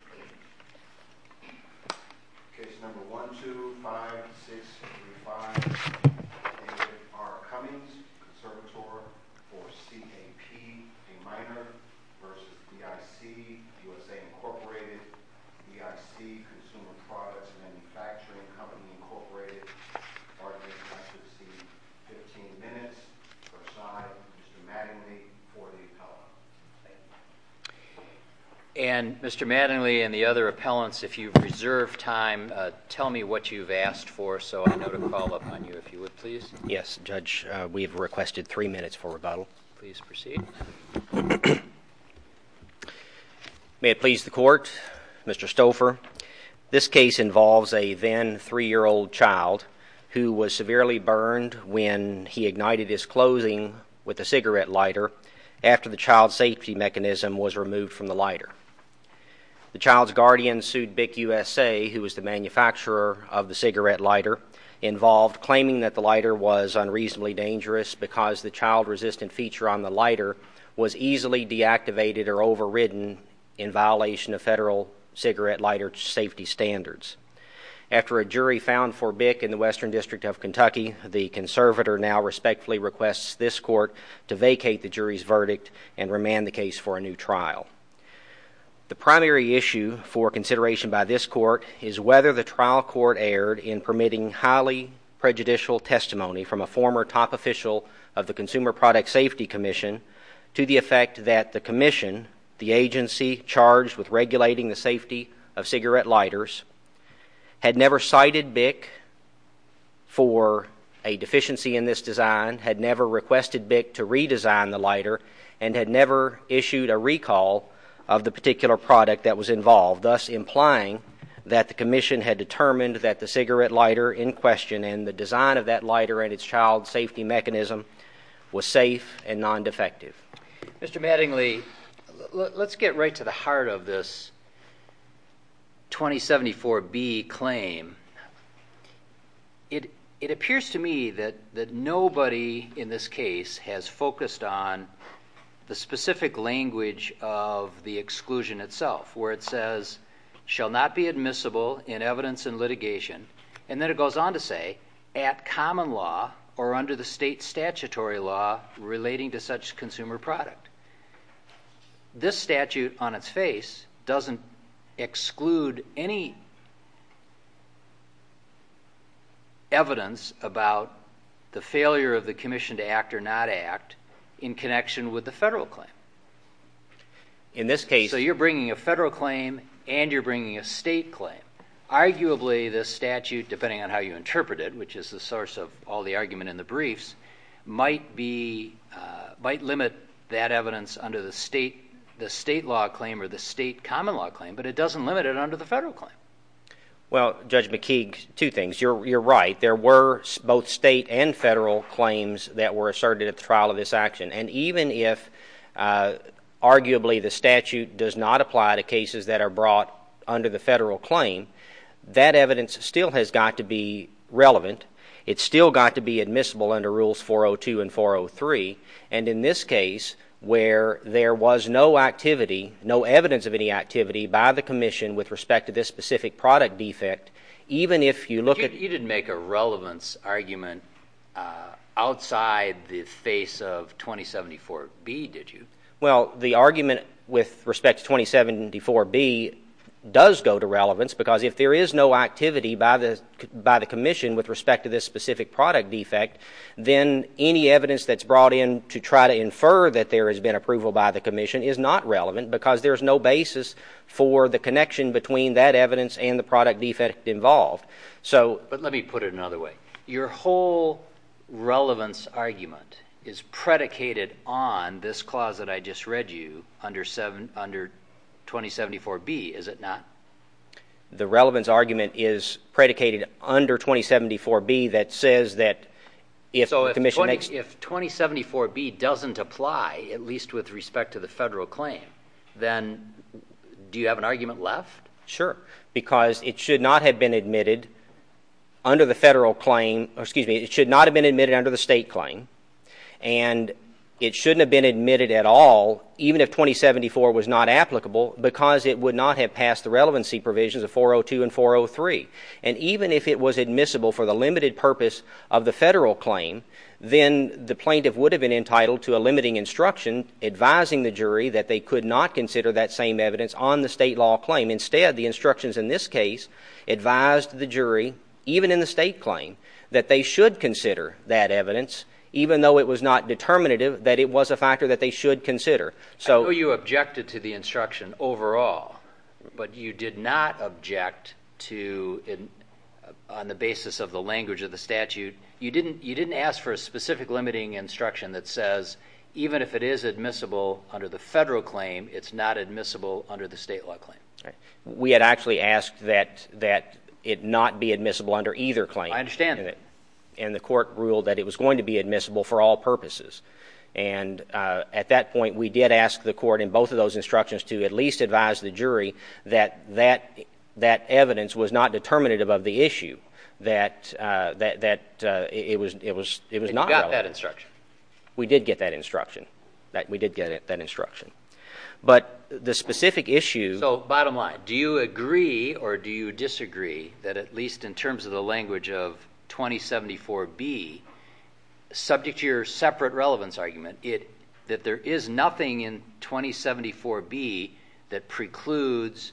v. USA, Inc. v. BIC, Consumer Products Manufacturing Company, Inc., Part A, Class of C, 15 minutes for side, Mr. Mattingly for the appellant. And Mr. Mattingly and the other appellants, if you reserve time, tell me what you've asked for so I know to call up on you if you would, please. Yes, Judge, we've requested three minutes for rebuttal. Please proceed. May it please the Court, Mr. Stouffer, this case involves a then three-year-old child who was severely burned when he ignited his clothing with a cigarette lighter after the child's safety mechanism was removed from the lighter. The child's guardian sued BIC USA, who was the manufacturer of the cigarette lighter, involved claiming that the lighter was unreasonably dangerous because the child-resistant feature on the lighter was easily deactivated or overridden in violation of federal cigarette lighter safety standards. After a jury found for BIC in the Western District of Kentucky, the conservator now respectfully requests this Court to vacate the jury's verdict and remand the case for a new trial. The primary issue for consideration by this Court is whether the trial court erred in permitting highly prejudicial testimony from a former top official of the Consumer Product Safety Commission to the effect that the commission, the agency charged with regulating the safety of cigarette lighters, had never cited BIC for a deficiency in this design, had never requested BIC to redesign the lighter, and had never issued a recall of the particular product that was involved, thus implying that the commission had determined that the cigarette lighter in question and the design of that lighter and its child safety mechanism was safe and non-defective. Mr. Mattingly, let's get right to the heart of this 2074B claim. It appears to me that nobody in this case has focused on the specific language of the exclusion itself, where it says, shall not be admissible in evidence and litigation, and then it goes on to say, at common law or under the state statutory law relating to such consumer product. This statute on its face doesn't exclude any evidence about the failure of the commission to act or not act in connection with the federal claim. In this case? So you're bringing a federal claim and you're bringing a state claim. Arguably this statute, depending on how you interpret it, which is the source of all the might limit that evidence under the state law claim or the state common law claim, but it doesn't limit it under the federal claim. Well, Judge McKeague, two things. You're right. There were both state and federal claims that were asserted at the trial of this action, and even if arguably the statute does not apply to cases that are brought under the federal claim, that evidence still has got to be relevant. It's still got to be admissible under rules 402 and 403, and in this case, where there was no activity, no evidence of any activity by the commission with respect to this specific product defect, even if you look at... You didn't make a relevance argument outside the face of 2074B, did you? Well, the argument with respect to 2074B does go to relevance, because if there is no activity by the commission with respect to this specific product defect, then any evidence that's brought in to try to infer that there has been approval by the commission is not relevant, because there's no basis for the connection between that evidence and the product defect involved. Let me put it another way. Your whole relevance argument is predicated on this clause that I just read you under 2074B, is it not? The relevance argument is predicated under 2074B that says that if the commission... So if 2074B doesn't apply, at least with respect to the federal claim, then do you have an argument left? Sure, because it should not have been admitted under the federal claim, or excuse me, it should not have been admitted under the state claim, and it shouldn't have been admitted at all, even if 2074 was not applicable, because it would not have passed the relevancy provisions of 402 and 403, and even if it was admissible for the limited purpose of the federal claim, then the plaintiff would have been entitled to a limiting instruction advising the jury that they could not consider that same evidence on the state law claim. Instead, the instructions in this case advised the jury, even in the state claim, that they should consider that evidence, even though it was not determinative, that it was a factor that they should consider. I know you objected to the instruction overall, but you did not object to, on the basis of the language of the statute, you didn't ask for a specific limiting instruction that says even if it is admissible under the federal claim, it's not admissible under the state law claim. We had actually asked that it not be admissible under either claim, and the court ruled that it was going to be admissible for all purposes. And at that point, we did ask the court in both of those instructions to at least advise the jury that that evidence was not determinative of the issue, that it was not relevant. You got that instruction. We did get that instruction. We did get that instruction. But the specific issue— So bottom line, do you agree or do you disagree that at least in terms of the language of 2074B, subject to your separate relevance argument, that there is nothing in 2074B that precludes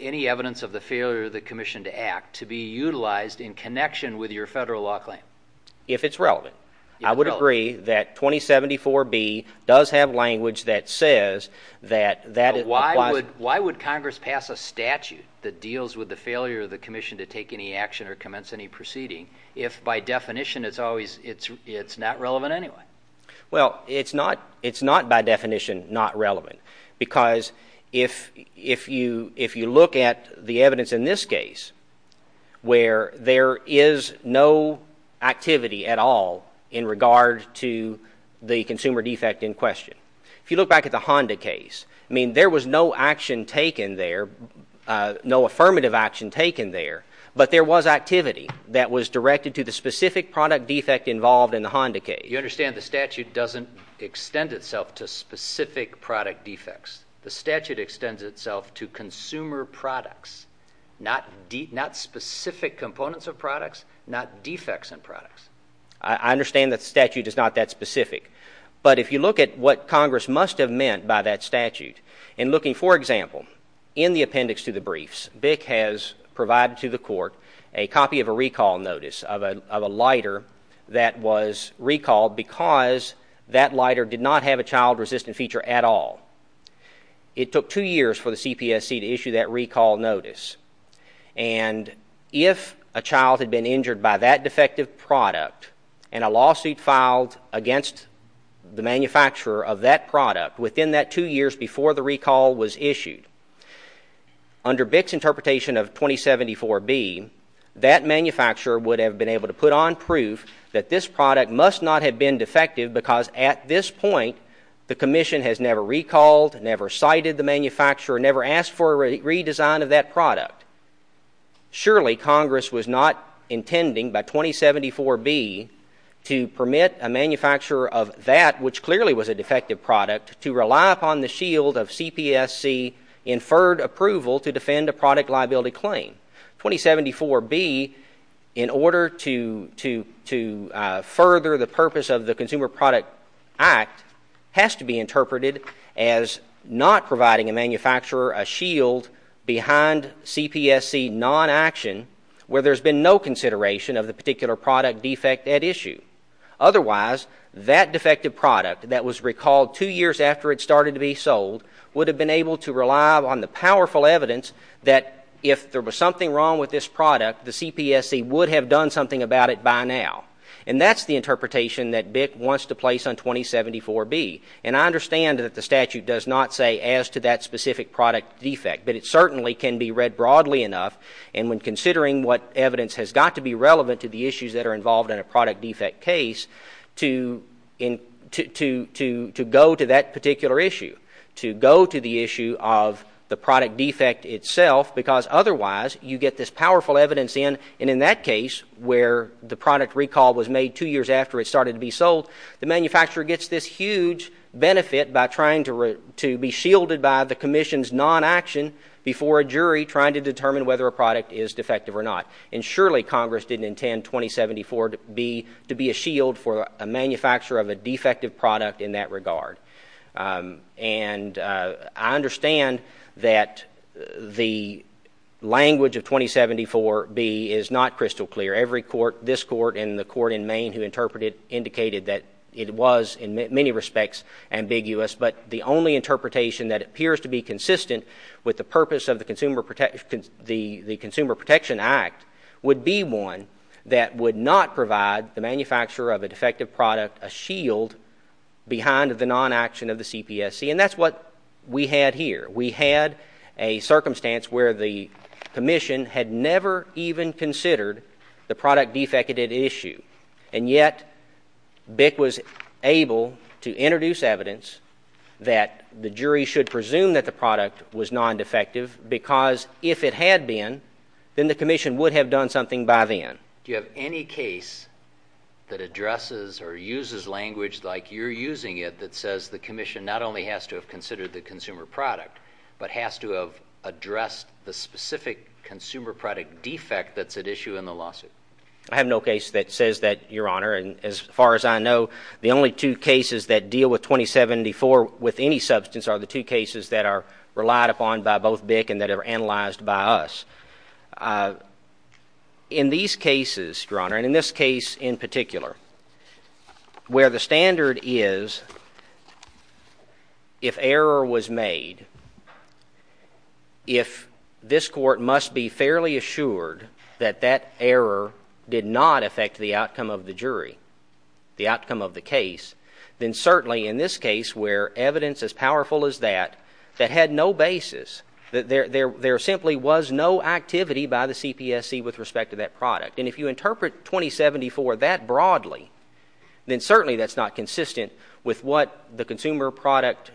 any evidence of the failure of the commission to act to be utilized in connection with your federal law claim? If it's relevant. I would agree that 2074B does have language that says that that— Why would Congress pass a statute that deals with the failure of the commission to take any action or commence any proceeding if, by definition, it's not relevant anyway? Well, it's not by definition not relevant because if you look at the evidence in this case where there is no activity at all in regard to the consumer defect in question, if you look back at the Honda case, I mean, there was no action taken there, no affirmative action taken there, but there was activity that was directed to the specific product defect involved in the Honda case. You understand the statute doesn't extend itself to specific product defects. The statute extends itself to consumer products, not specific components of products, not defects in products. I understand that statute is not that specific, but if you look at what Congress must have by that statute, and looking, for example, in the appendix to the briefs, BIC has provided to the court a copy of a recall notice of a lighter that was recalled because that lighter did not have a child-resistant feature at all. It took two years for the CPSC to issue that recall notice, and if a child had been injured by that defective product and a lawsuit filed against the manufacturer of that product within that two years before the recall was issued, under BIC's interpretation of 2074B, that manufacturer would have been able to put on proof that this product must not have been defective because at this point the commission has never recalled, never cited the manufacturer, never asked for a redesign of that product. Surely Congress was not intending by 2074B to permit a manufacturer of that, which clearly was a defective product, to rely upon the shield of CPSC-inferred approval to defend a product liability claim. 2074B, in order to further the purpose of the Consumer Product Act, has to be interpreted as not providing a manufacturer a shield behind CPSC non-action where there's been no consideration of the particular product defect at issue. Otherwise, that defective product that was recalled two years after it started to be sold would have been able to rely on the powerful evidence that if there was something wrong with this product, the CPSC would have done something about it by now. And that's the interpretation that BIC wants to place on 2074B. And I understand that the statute does not say as to that specific product defect, but it certainly can be read broadly enough, and when considering what evidence has got to be relevant to the issues that are involved in a product defect case, to go to that particular issue, to go to the issue of the product defect itself, because otherwise you get this powerful evidence in, and in that case, where the product recall was made two years after it started to be sold, the manufacturer gets this huge benefit by trying to be shielded by the Commission's non-action before a jury trying to determine whether a product is defective or not. And surely Congress didn't intend 2074B to be a shield for a manufacturer of a defective product in that regard. And I understand that the language of 2074B is not crystal clear. Every court, this court and the court in Maine who interpreted it, indicated that it was in many respects ambiguous, but the only interpretation that appears to be consistent with the purpose of the Consumer Protection Act would be one that would not provide the manufacturer of a defective product a shield behind the non-action of the CPSC, and that's what we had here. We had a circumstance where the Commission had never even considered the product defected issue, and yet BIC was able to introduce evidence that the jury should presume that the product was non-defective, because if it had been, then the Commission would have done something by then. Do you have any case that addresses or uses language like you're using it that says the Commission not only has to have considered the consumer product, but has to have addressed the specific consumer product defect that's at issue in the lawsuit? I have no case that says that, Your Honor, and as far as I know, the only two cases that deal with 2074 with any substance are the two cases that are relied upon by both BIC and that are analyzed by us. In these cases, Your Honor, and in this case in particular, where the standard is if error was made, if this court must be fairly assured that that error did not affect the outcome of the jury, the outcome of the case, then certainly in this case, where evidence as powerful as that, that had no basis, there simply was no activity by the CPSC with respect to that product. And if you interpret 2074 that broadly, then certainly that's not consistent with what the Consumer Product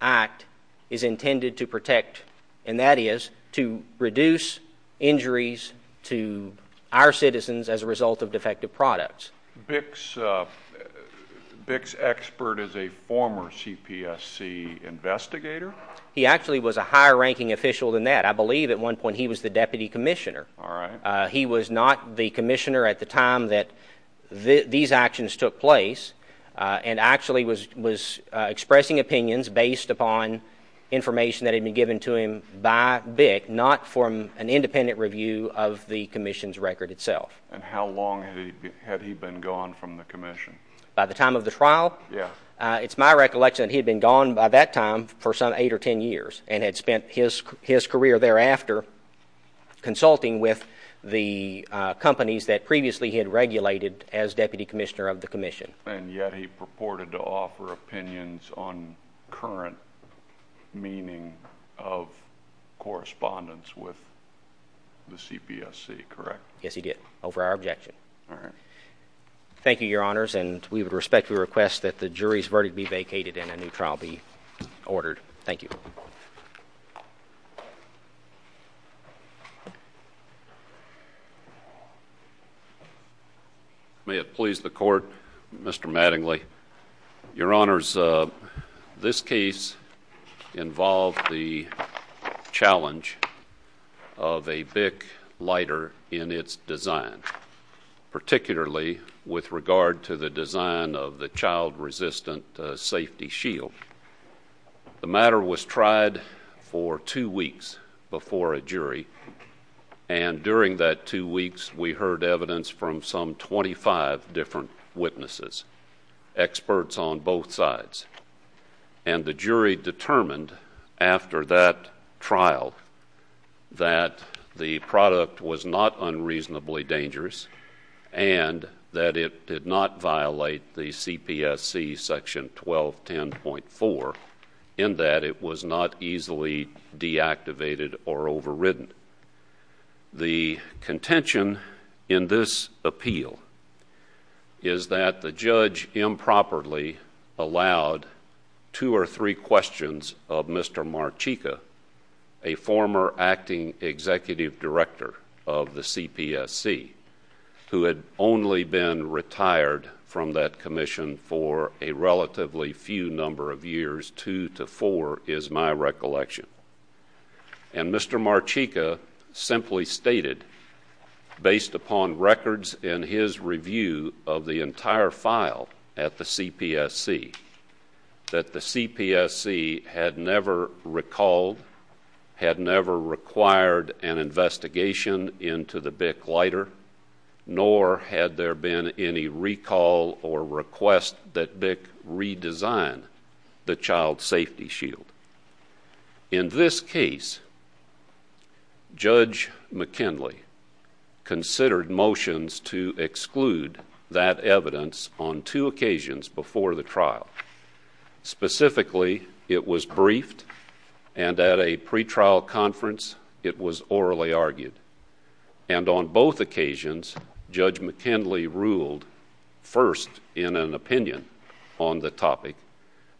Act is intended to protect, and that is to reduce injuries to our citizens as a result of defective products. BIC's expert is a former CPSC investigator? He actually was a higher-ranking official than that. I believe at one point he was the deputy commissioner. He was not the commissioner at the time that these actions took place, and actually was expressing opinions based upon information that had been given to him by BIC, not from an independent review of the commission's record itself. And how long had he been gone from the commission? By the time of the trial? Yes. It's my recollection that he had been gone by that time for some eight or ten years, and had spent his career thereafter consulting with the companies that previously he had regulated as deputy commissioner of the commission. And yet he purported to offer opinions on current meaning of correspondence with the CPSC, correct? Yes, he did, over our objection. Thank you, Your Honors, and we would respectfully request that the jury's verdict be vacated and a new trial be ordered. Thank you. May it please the Court, Mr. Mattingly. Your Honors, this case involved the challenge of a BIC lighter in its design, particularly with regard to the design of the child-resistant safety shield. The matter was tried for two weeks before a jury, and during that two weeks, we heard evidence from some twenty-five different witnesses, experts on both sides. And the jury determined, after that trial, that the product was not unreasonably dangerous, and that it did not violate the CPSC Section 1210.4, in that it was not easily deactivated or overridden. The contention in this appeal is that the judge improperly allowed two or three questions of Mr. Marchica, a former Acting Executive Director of the CPSC, who had only been retired from that commission for a relatively few number of years, two to four is my recollection. And Mr. Marchica simply stated, based upon records in his review of the entire file at the CPSC, that the CPSC had never recalled, had never required an investigation into the BIC lighter, nor had there been any recall or request that BIC redesign the child safety shield. In this case, Judge McKinley considered motions to exclude that evidence on two occasions before the trial. Specifically, it was briefed, and at a pretrial conference, it was orally argued. And on both occasions, Judge McKinley ruled, first, in an opinion on the topic,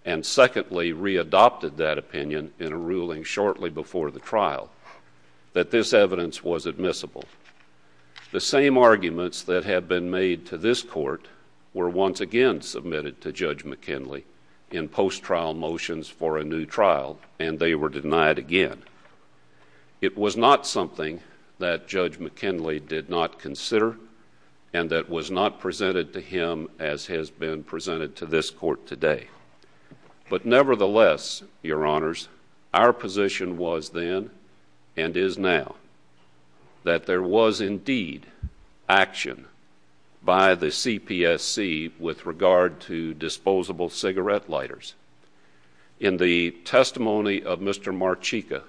and secondly, re-adopted that opinion in a ruling shortly before the trial, that this evidence was admissible. The same arguments that had been made to this Court were once again submitted to Judge McKinley in post-trial motions for a new trial, and they were denied again. It was not something that Judge McKinley did not consider, and that was not presented to him as has been presented to this Court today. But nevertheless, Your Honors, our position was then, and is now, that there was indeed action by the CPSC with regard to disposable cigarette lighters. In the testimony of Mr. Marchica,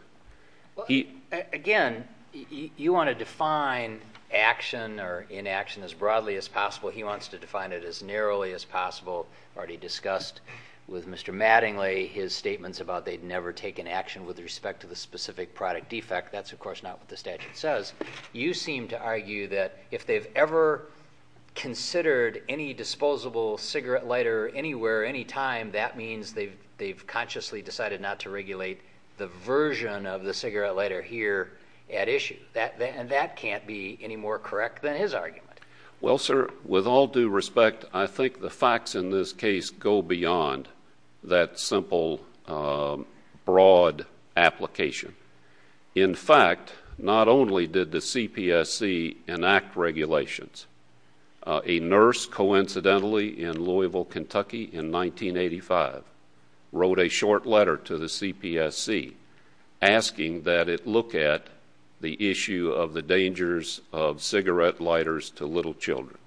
he- Again, you want to define action or inaction as broadly as possible. He wants to define it as narrowly as possible. Already discussed with Mr. Mattingly, his statements about they'd never taken action with respect to the specific product defect, that's of course not what the statute says. You seem to argue that if they've ever considered any disposable cigarette lighter anywhere, any time, that means they've consciously decided not to regulate the version of the cigarette lighter here at issue. And that can't be any more correct than his argument. Well, sir, with all due respect, I think the facts in this case go beyond that simple broad application. In fact, not only did the CPSC enact regulations, a nurse coincidentally in Louisville, Kentucky in 1985 wrote a short letter to the CPSC asking that it look at the issue of the dangers of little children.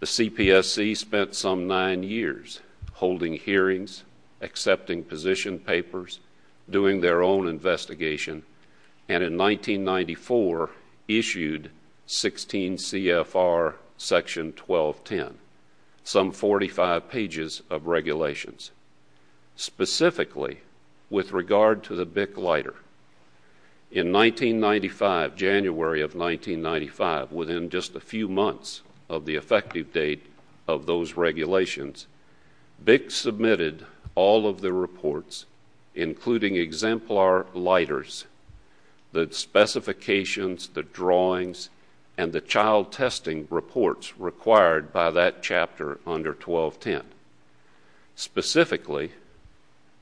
The CPSC spent some nine years holding hearings, accepting position papers, doing their own investigation, and in 1994 issued 16 CFR section 1210, some 45 pages of regulations. Specifically, with regard to the BIC lighter, in 1995, January of 1995, within just a few months of the effective date of those regulations, BIC submitted all of the reports, including exemplar lighters, the specifications, the drawings, and the child testing reports required by that chapter under 1210. Specifically,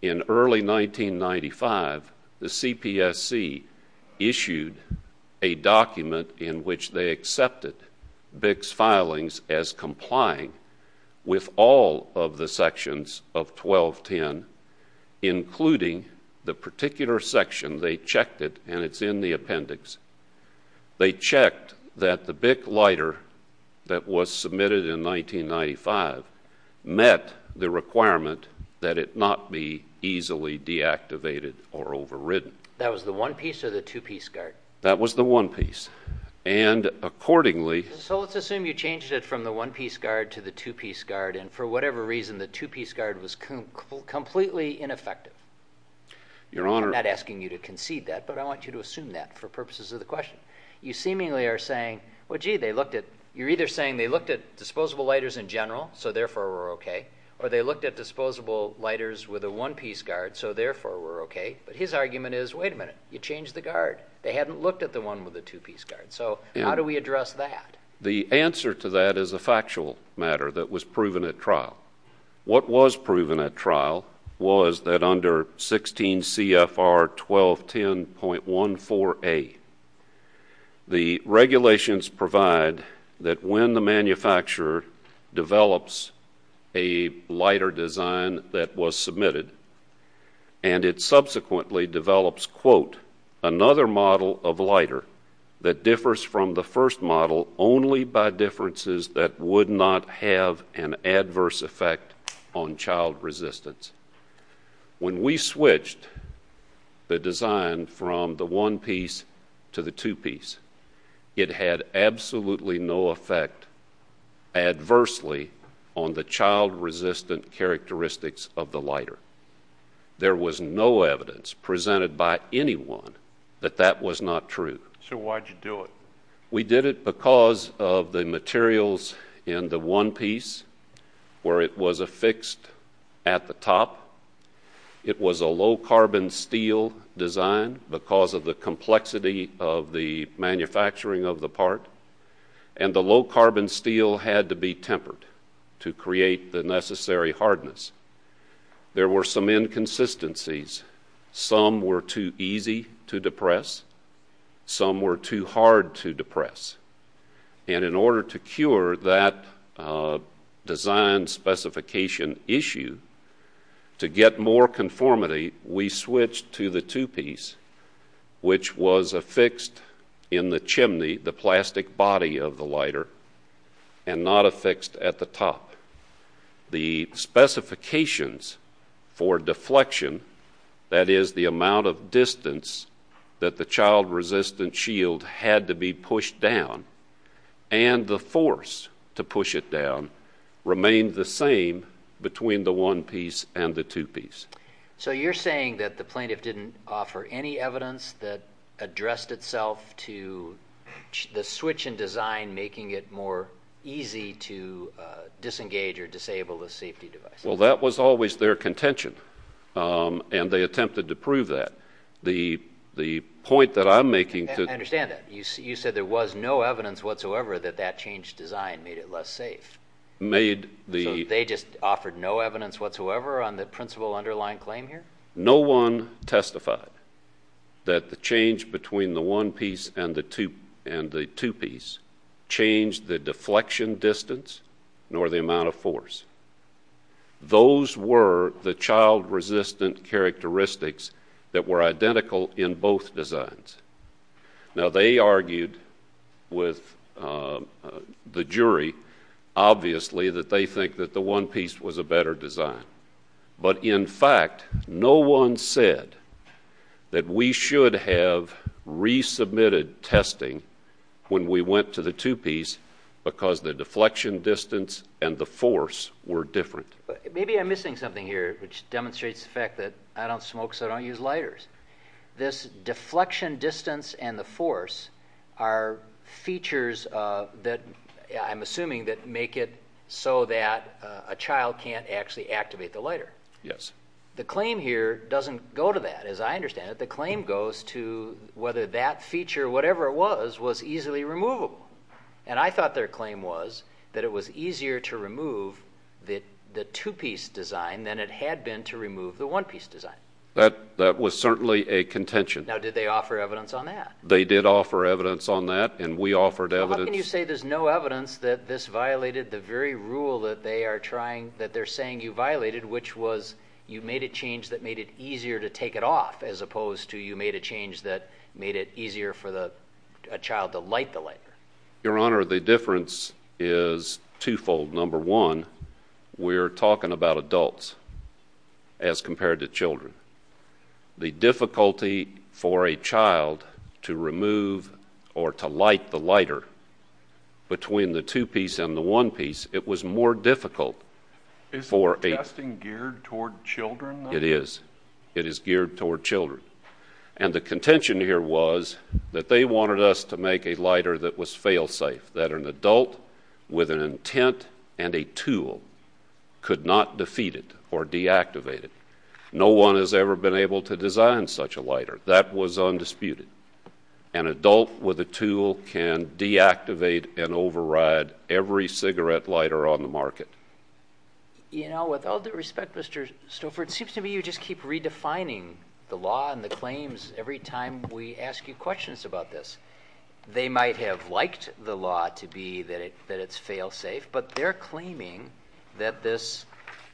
in early 1995, the CPSC issued a document in which they accepted BIC's filings as complying with all of the sections of 1210, including the particular section. They checked it, and it's in the appendix. They checked that the BIC lighter that was submitted in 1995 met the requirement that it not be easily deactivated or overridden. That was the one-piece or the two-piece guard? That was the one-piece. And accordingly— So let's assume you changed it from the one-piece guard to the two-piece guard, and for whatever reason the two-piece guard was completely ineffective. Your Honor— I'm not asking you to concede that, but I want you to assume that for purposes of the question. You seemingly are saying, well, gee, they looked at—you're either saying they looked at disposable lighters in general, so therefore we're okay, or they looked at disposable lighters with a one-piece guard, so therefore we're okay. But his argument is, wait a minute, you changed the guard. They hadn't looked at the one with the two-piece guard. So how do we address that? The answer to that is a factual matter that was proven at trial. What was proven at trial was that under 16 CFR 1210.14a, the regulations provide that when the manufacturer develops a lighter design that was submitted, and it subsequently develops, quote, another model of lighter that differs from the first model only by differences that would not have an adverse effect on child resistance. When we switched the design from the one-piece to the two-piece, it had absolutely no effect adversely on the child-resistant characteristics of the lighter. There was no evidence presented by anyone that that was not true. So why'd you do it? We did it because of the materials in the one-piece where it was affixed at the top. It was a low-carbon steel design because of the complexity of the manufacturing of the part, and the low-carbon steel had to be tempered to create the necessary hardness. There were some inconsistencies. Some were too easy to depress. Some were too hard to depress. And in order to cure that design specification issue, to get more conformity, we switched to the two-piece, which was affixed in the chimney, the plastic body of the lighter, and not affixed at the top. The specifications for deflection, that is the amount of distance that the child-resistant shield had to be pushed down, and the force to push it down, remained the same between the one-piece and the two-piece. So you're saying that the plaintiff didn't offer any evidence that addressed itself to the switch in design, making it more easy to disengage or disable the safety device? Well, that was always their contention, and they attempted to prove that. The point that I'm making to— I understand that. You said there was no evidence whatsoever that that changed design made it less safe. They just offered no evidence whatsoever on the principal underlying claim here? No one testified that the change between the one-piece and the two-piece changed the deflection distance nor the amount of force. Those were the child-resistant characteristics that were identical in both designs. Now they argued with the jury, obviously, that they think that the one-piece was a better design. But in fact, no one said that we should have resubmitted testing when we went to the two-piece because the deflection distance and the force were different. Maybe I'm missing something here, which demonstrates the fact that I don't smoke, so I don't use lighters. This deflection distance and the force are features that—I'm assuming that make it so that a child can't actually activate the lighter. Yes. The claim here doesn't go to that, as I understand it. The claim goes to whether that feature, whatever it was, was easily removable. And I thought their claim was that it was easier to remove the two-piece design than it had been to remove the one-piece design. That was certainly a contention. Now, did they offer evidence on that? They did offer evidence on that, and we offered evidence— The rule that they are saying you violated, which was you made a change that made it easier to take it off, as opposed to you made a change that made it easier for a child to light the lighter. Your Honor, the difference is twofold. Number one, we're talking about adults as compared to children. The difficulty for a child to remove or to light the lighter between the two-piece and the one-piece, it was more difficult for a— Is the testing geared toward children, though? It is. It is geared toward children. And the contention here was that they wanted us to make a lighter that was fail-safe, that an adult with an intent and a tool could not defeat it or deactivate it. No one has ever been able to design such a lighter. That was undisputed. An adult with a tool can deactivate and override every cigarette lighter on the market. You know, with all due respect, Mr. Stoffer, it seems to me you just keep redefining the law and the claims every time we ask you questions about this. They might have liked the law to be that it's fail-safe, but they're claiming that this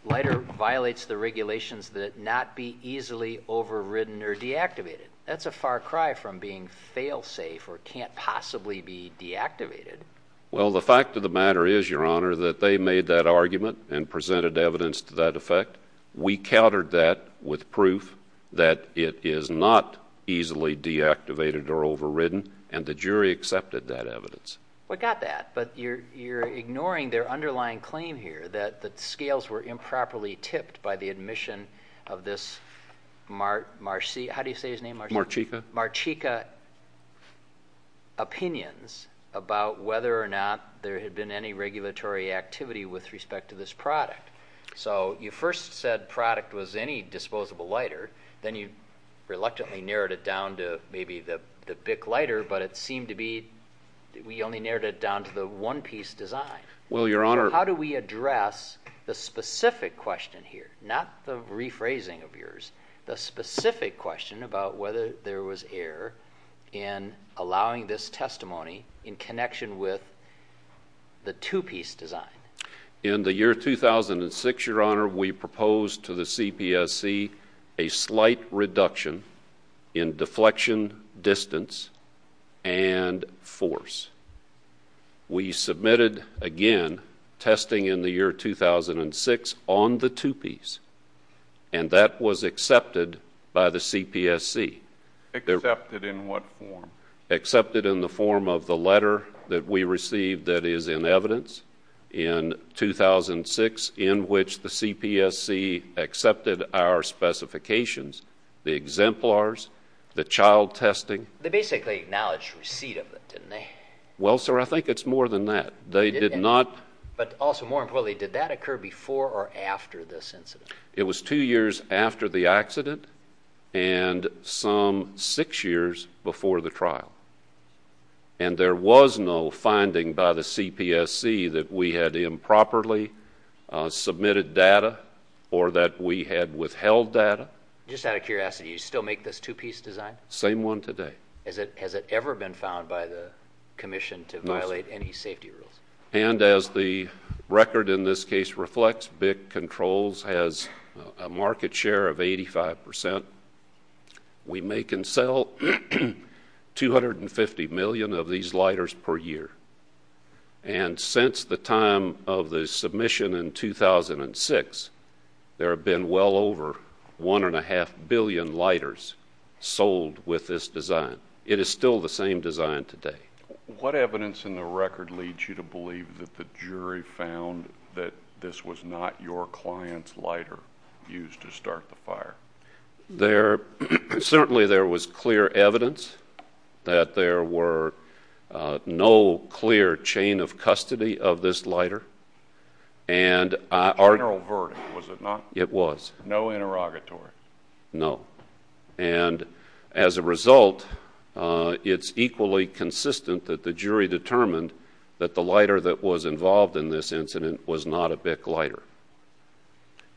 lighter violates the regulations that it not be easily overridden or deactivated. That's a far cry from being fail-safe or can't possibly be deactivated. Well, the fact of the matter is, Your Honor, that they made that argument and presented evidence to that effect. We countered that with proof that it is not easily deactivated or overridden, and the jury accepted that evidence. We got that, but you're ignoring their underlying claim here that the scales were improperly marchika opinions about whether or not there had been any regulatory activity with respect to this product. So you first said product was any disposable lighter, then you reluctantly narrowed it down to maybe the Bic lighter, but it seemed to be we only narrowed it down to the one-piece design. Well, Your Honor. How do we address the specific question here, not the rephrasing of yours, the specific question about whether there was error in allowing this testimony in connection with the two-piece design? In the year 2006, Your Honor, we proposed to the CPSC a slight reduction in deflection distance and force. We submitted, again, testing in the year 2006 on the two-piece, and that was accepted by the CPSC. Accepted in what form? Accepted in the form of the letter that we received that is in evidence in 2006, in which the CPSC accepted our specifications, the exemplars, the child testing. They basically acknowledged receipt of it, didn't they? Well, sir, I think it's more than that. They did not. But also, more importantly, did that occur before or after this incident? It was two years after the accident and some six years before the trial, and there was no finding by the CPSC that we had improperly submitted data or that we had withheld data. Just out of curiosity, you still make this two-piece design? Same one today. Has it ever been found by the Commission to violate any safety rules? And as the record in this case reflects, BIC Controls has a market share of 85%. We make and sell 250 million of these lighters per year. And since the time of the submission in 2006, there have been well over 1.5 billion lighters sold with this design. It is still the same design today. What evidence in the record leads you to believe that the jury found that this was not your client's lighter used to start the fire? Certainly there was clear evidence that there were no clear chain of custody of this lighter. And our- General verdict, was it not? It was. No interrogatory? No. And as a result, it's equally consistent that the jury determined that the lighter that was involved in this incident was not a BIC lighter.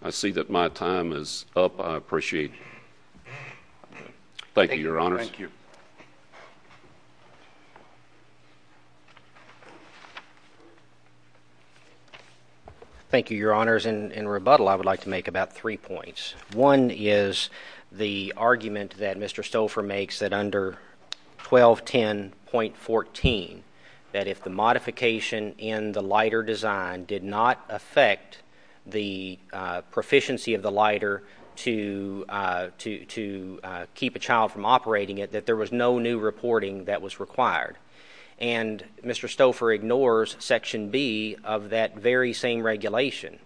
I see that my time is up. I appreciate it. Thank you, Your Honors. Thank you. Thank you, Your Honors. In rebuttal, I would like to make about three points. One is the argument that Mr. Stouffer makes that under 1210.14, that if the modification in the lighter design did not affect the proficiency of the lighter to keep a child from operating it, that there was no new reporting that was required. And Mr. Stouffer ignores Section B of that very same regulation.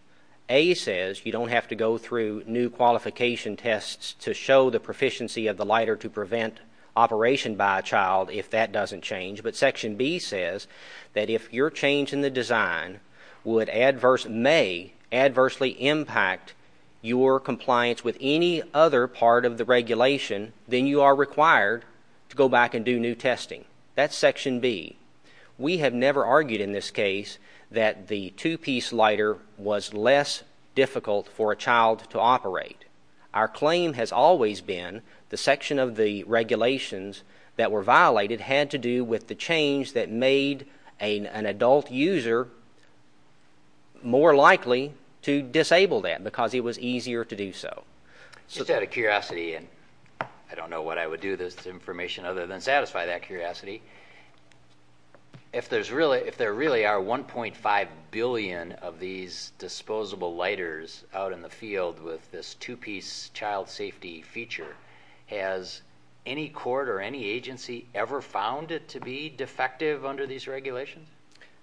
A says you don't have to go through new qualification tests to show the proficiency of the lighter to prevent operation by a child if that doesn't change. But Section B says that if your change in the design would adverse- may adversely impact your compliance with any other part of the regulation, then you are required to go back and do new testing. That's Section B. We have never argued in this case that the two-piece lighter was less difficult for a child to operate. Our claim has always been the section of the regulations that were violated had to do with the change that made an adult user more likely to disable that, because it was easier to do so. Just out of curiosity, and I don't know what I would do with this information other than If there really are 1.5 billion of these disposable lighters out in the field with this two-piece child safety feature, has any court or any agency ever found it to be defective under these regulations?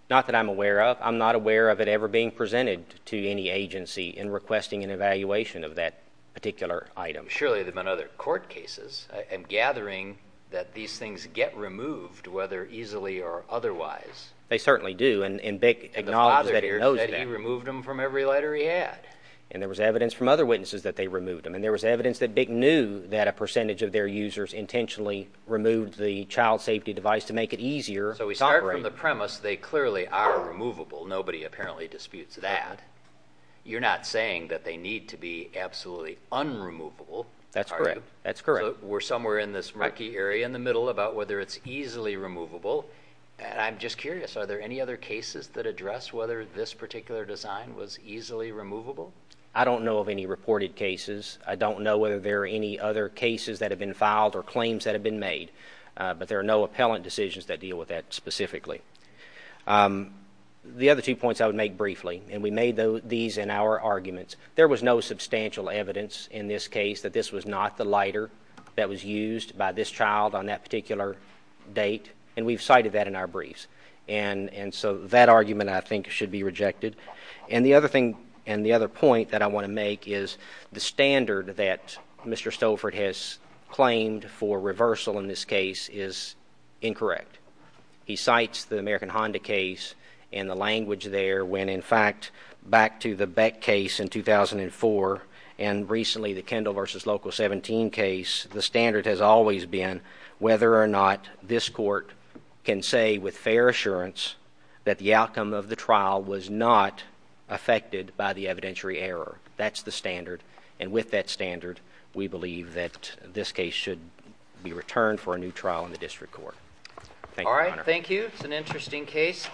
Not that I'm aware of. I'm not aware of it ever being presented to any agency in requesting an evaluation of that particular item. Surely there have been other court cases. I am gathering that these things get removed, whether easily or otherwise. They certainly do. And BIC acknowledges that it knows that. And the father here said he removed them from every lighter he had. And there was evidence from other witnesses that they removed them. And there was evidence that BIC knew that a percentage of their users intentionally removed the child safety device to make it easier to operate. So we start from the premise they clearly are removable. Nobody apparently disputes that. You're not saying that they need to be absolutely unremovable, are you? That's correct. So we're somewhere in this murky area in the middle about whether it's easily removable. And I'm just curious, are there any other cases that address whether this particular design was easily removable? I don't know of any reported cases. I don't know whether there are any other cases that have been filed or claims that have been made. But there are no appellant decisions that deal with that specifically. The other two points I would make briefly, and we made these in our arguments. There was no substantial evidence in this case that this was not the lighter that was used by this child on that particular date. And we've cited that in our briefs. And so that argument, I think, should be rejected. And the other thing and the other point that I want to make is the standard that Mr. Stouffert has claimed for reversal in this case is incorrect. He cites the American Honda case and the language there when, in fact, back to the Beck case in 2004 and recently the Kendall versus Local 17 case, the standard has always been whether or not this court can say with fair assurance that the outcome of the trial was not affected by the evidentiary error. That's the standard. And with that standard, we believe that this case should be returned for a new trial in the district court. Thank you, Your Honor. All right. Thank you. It's an interesting case.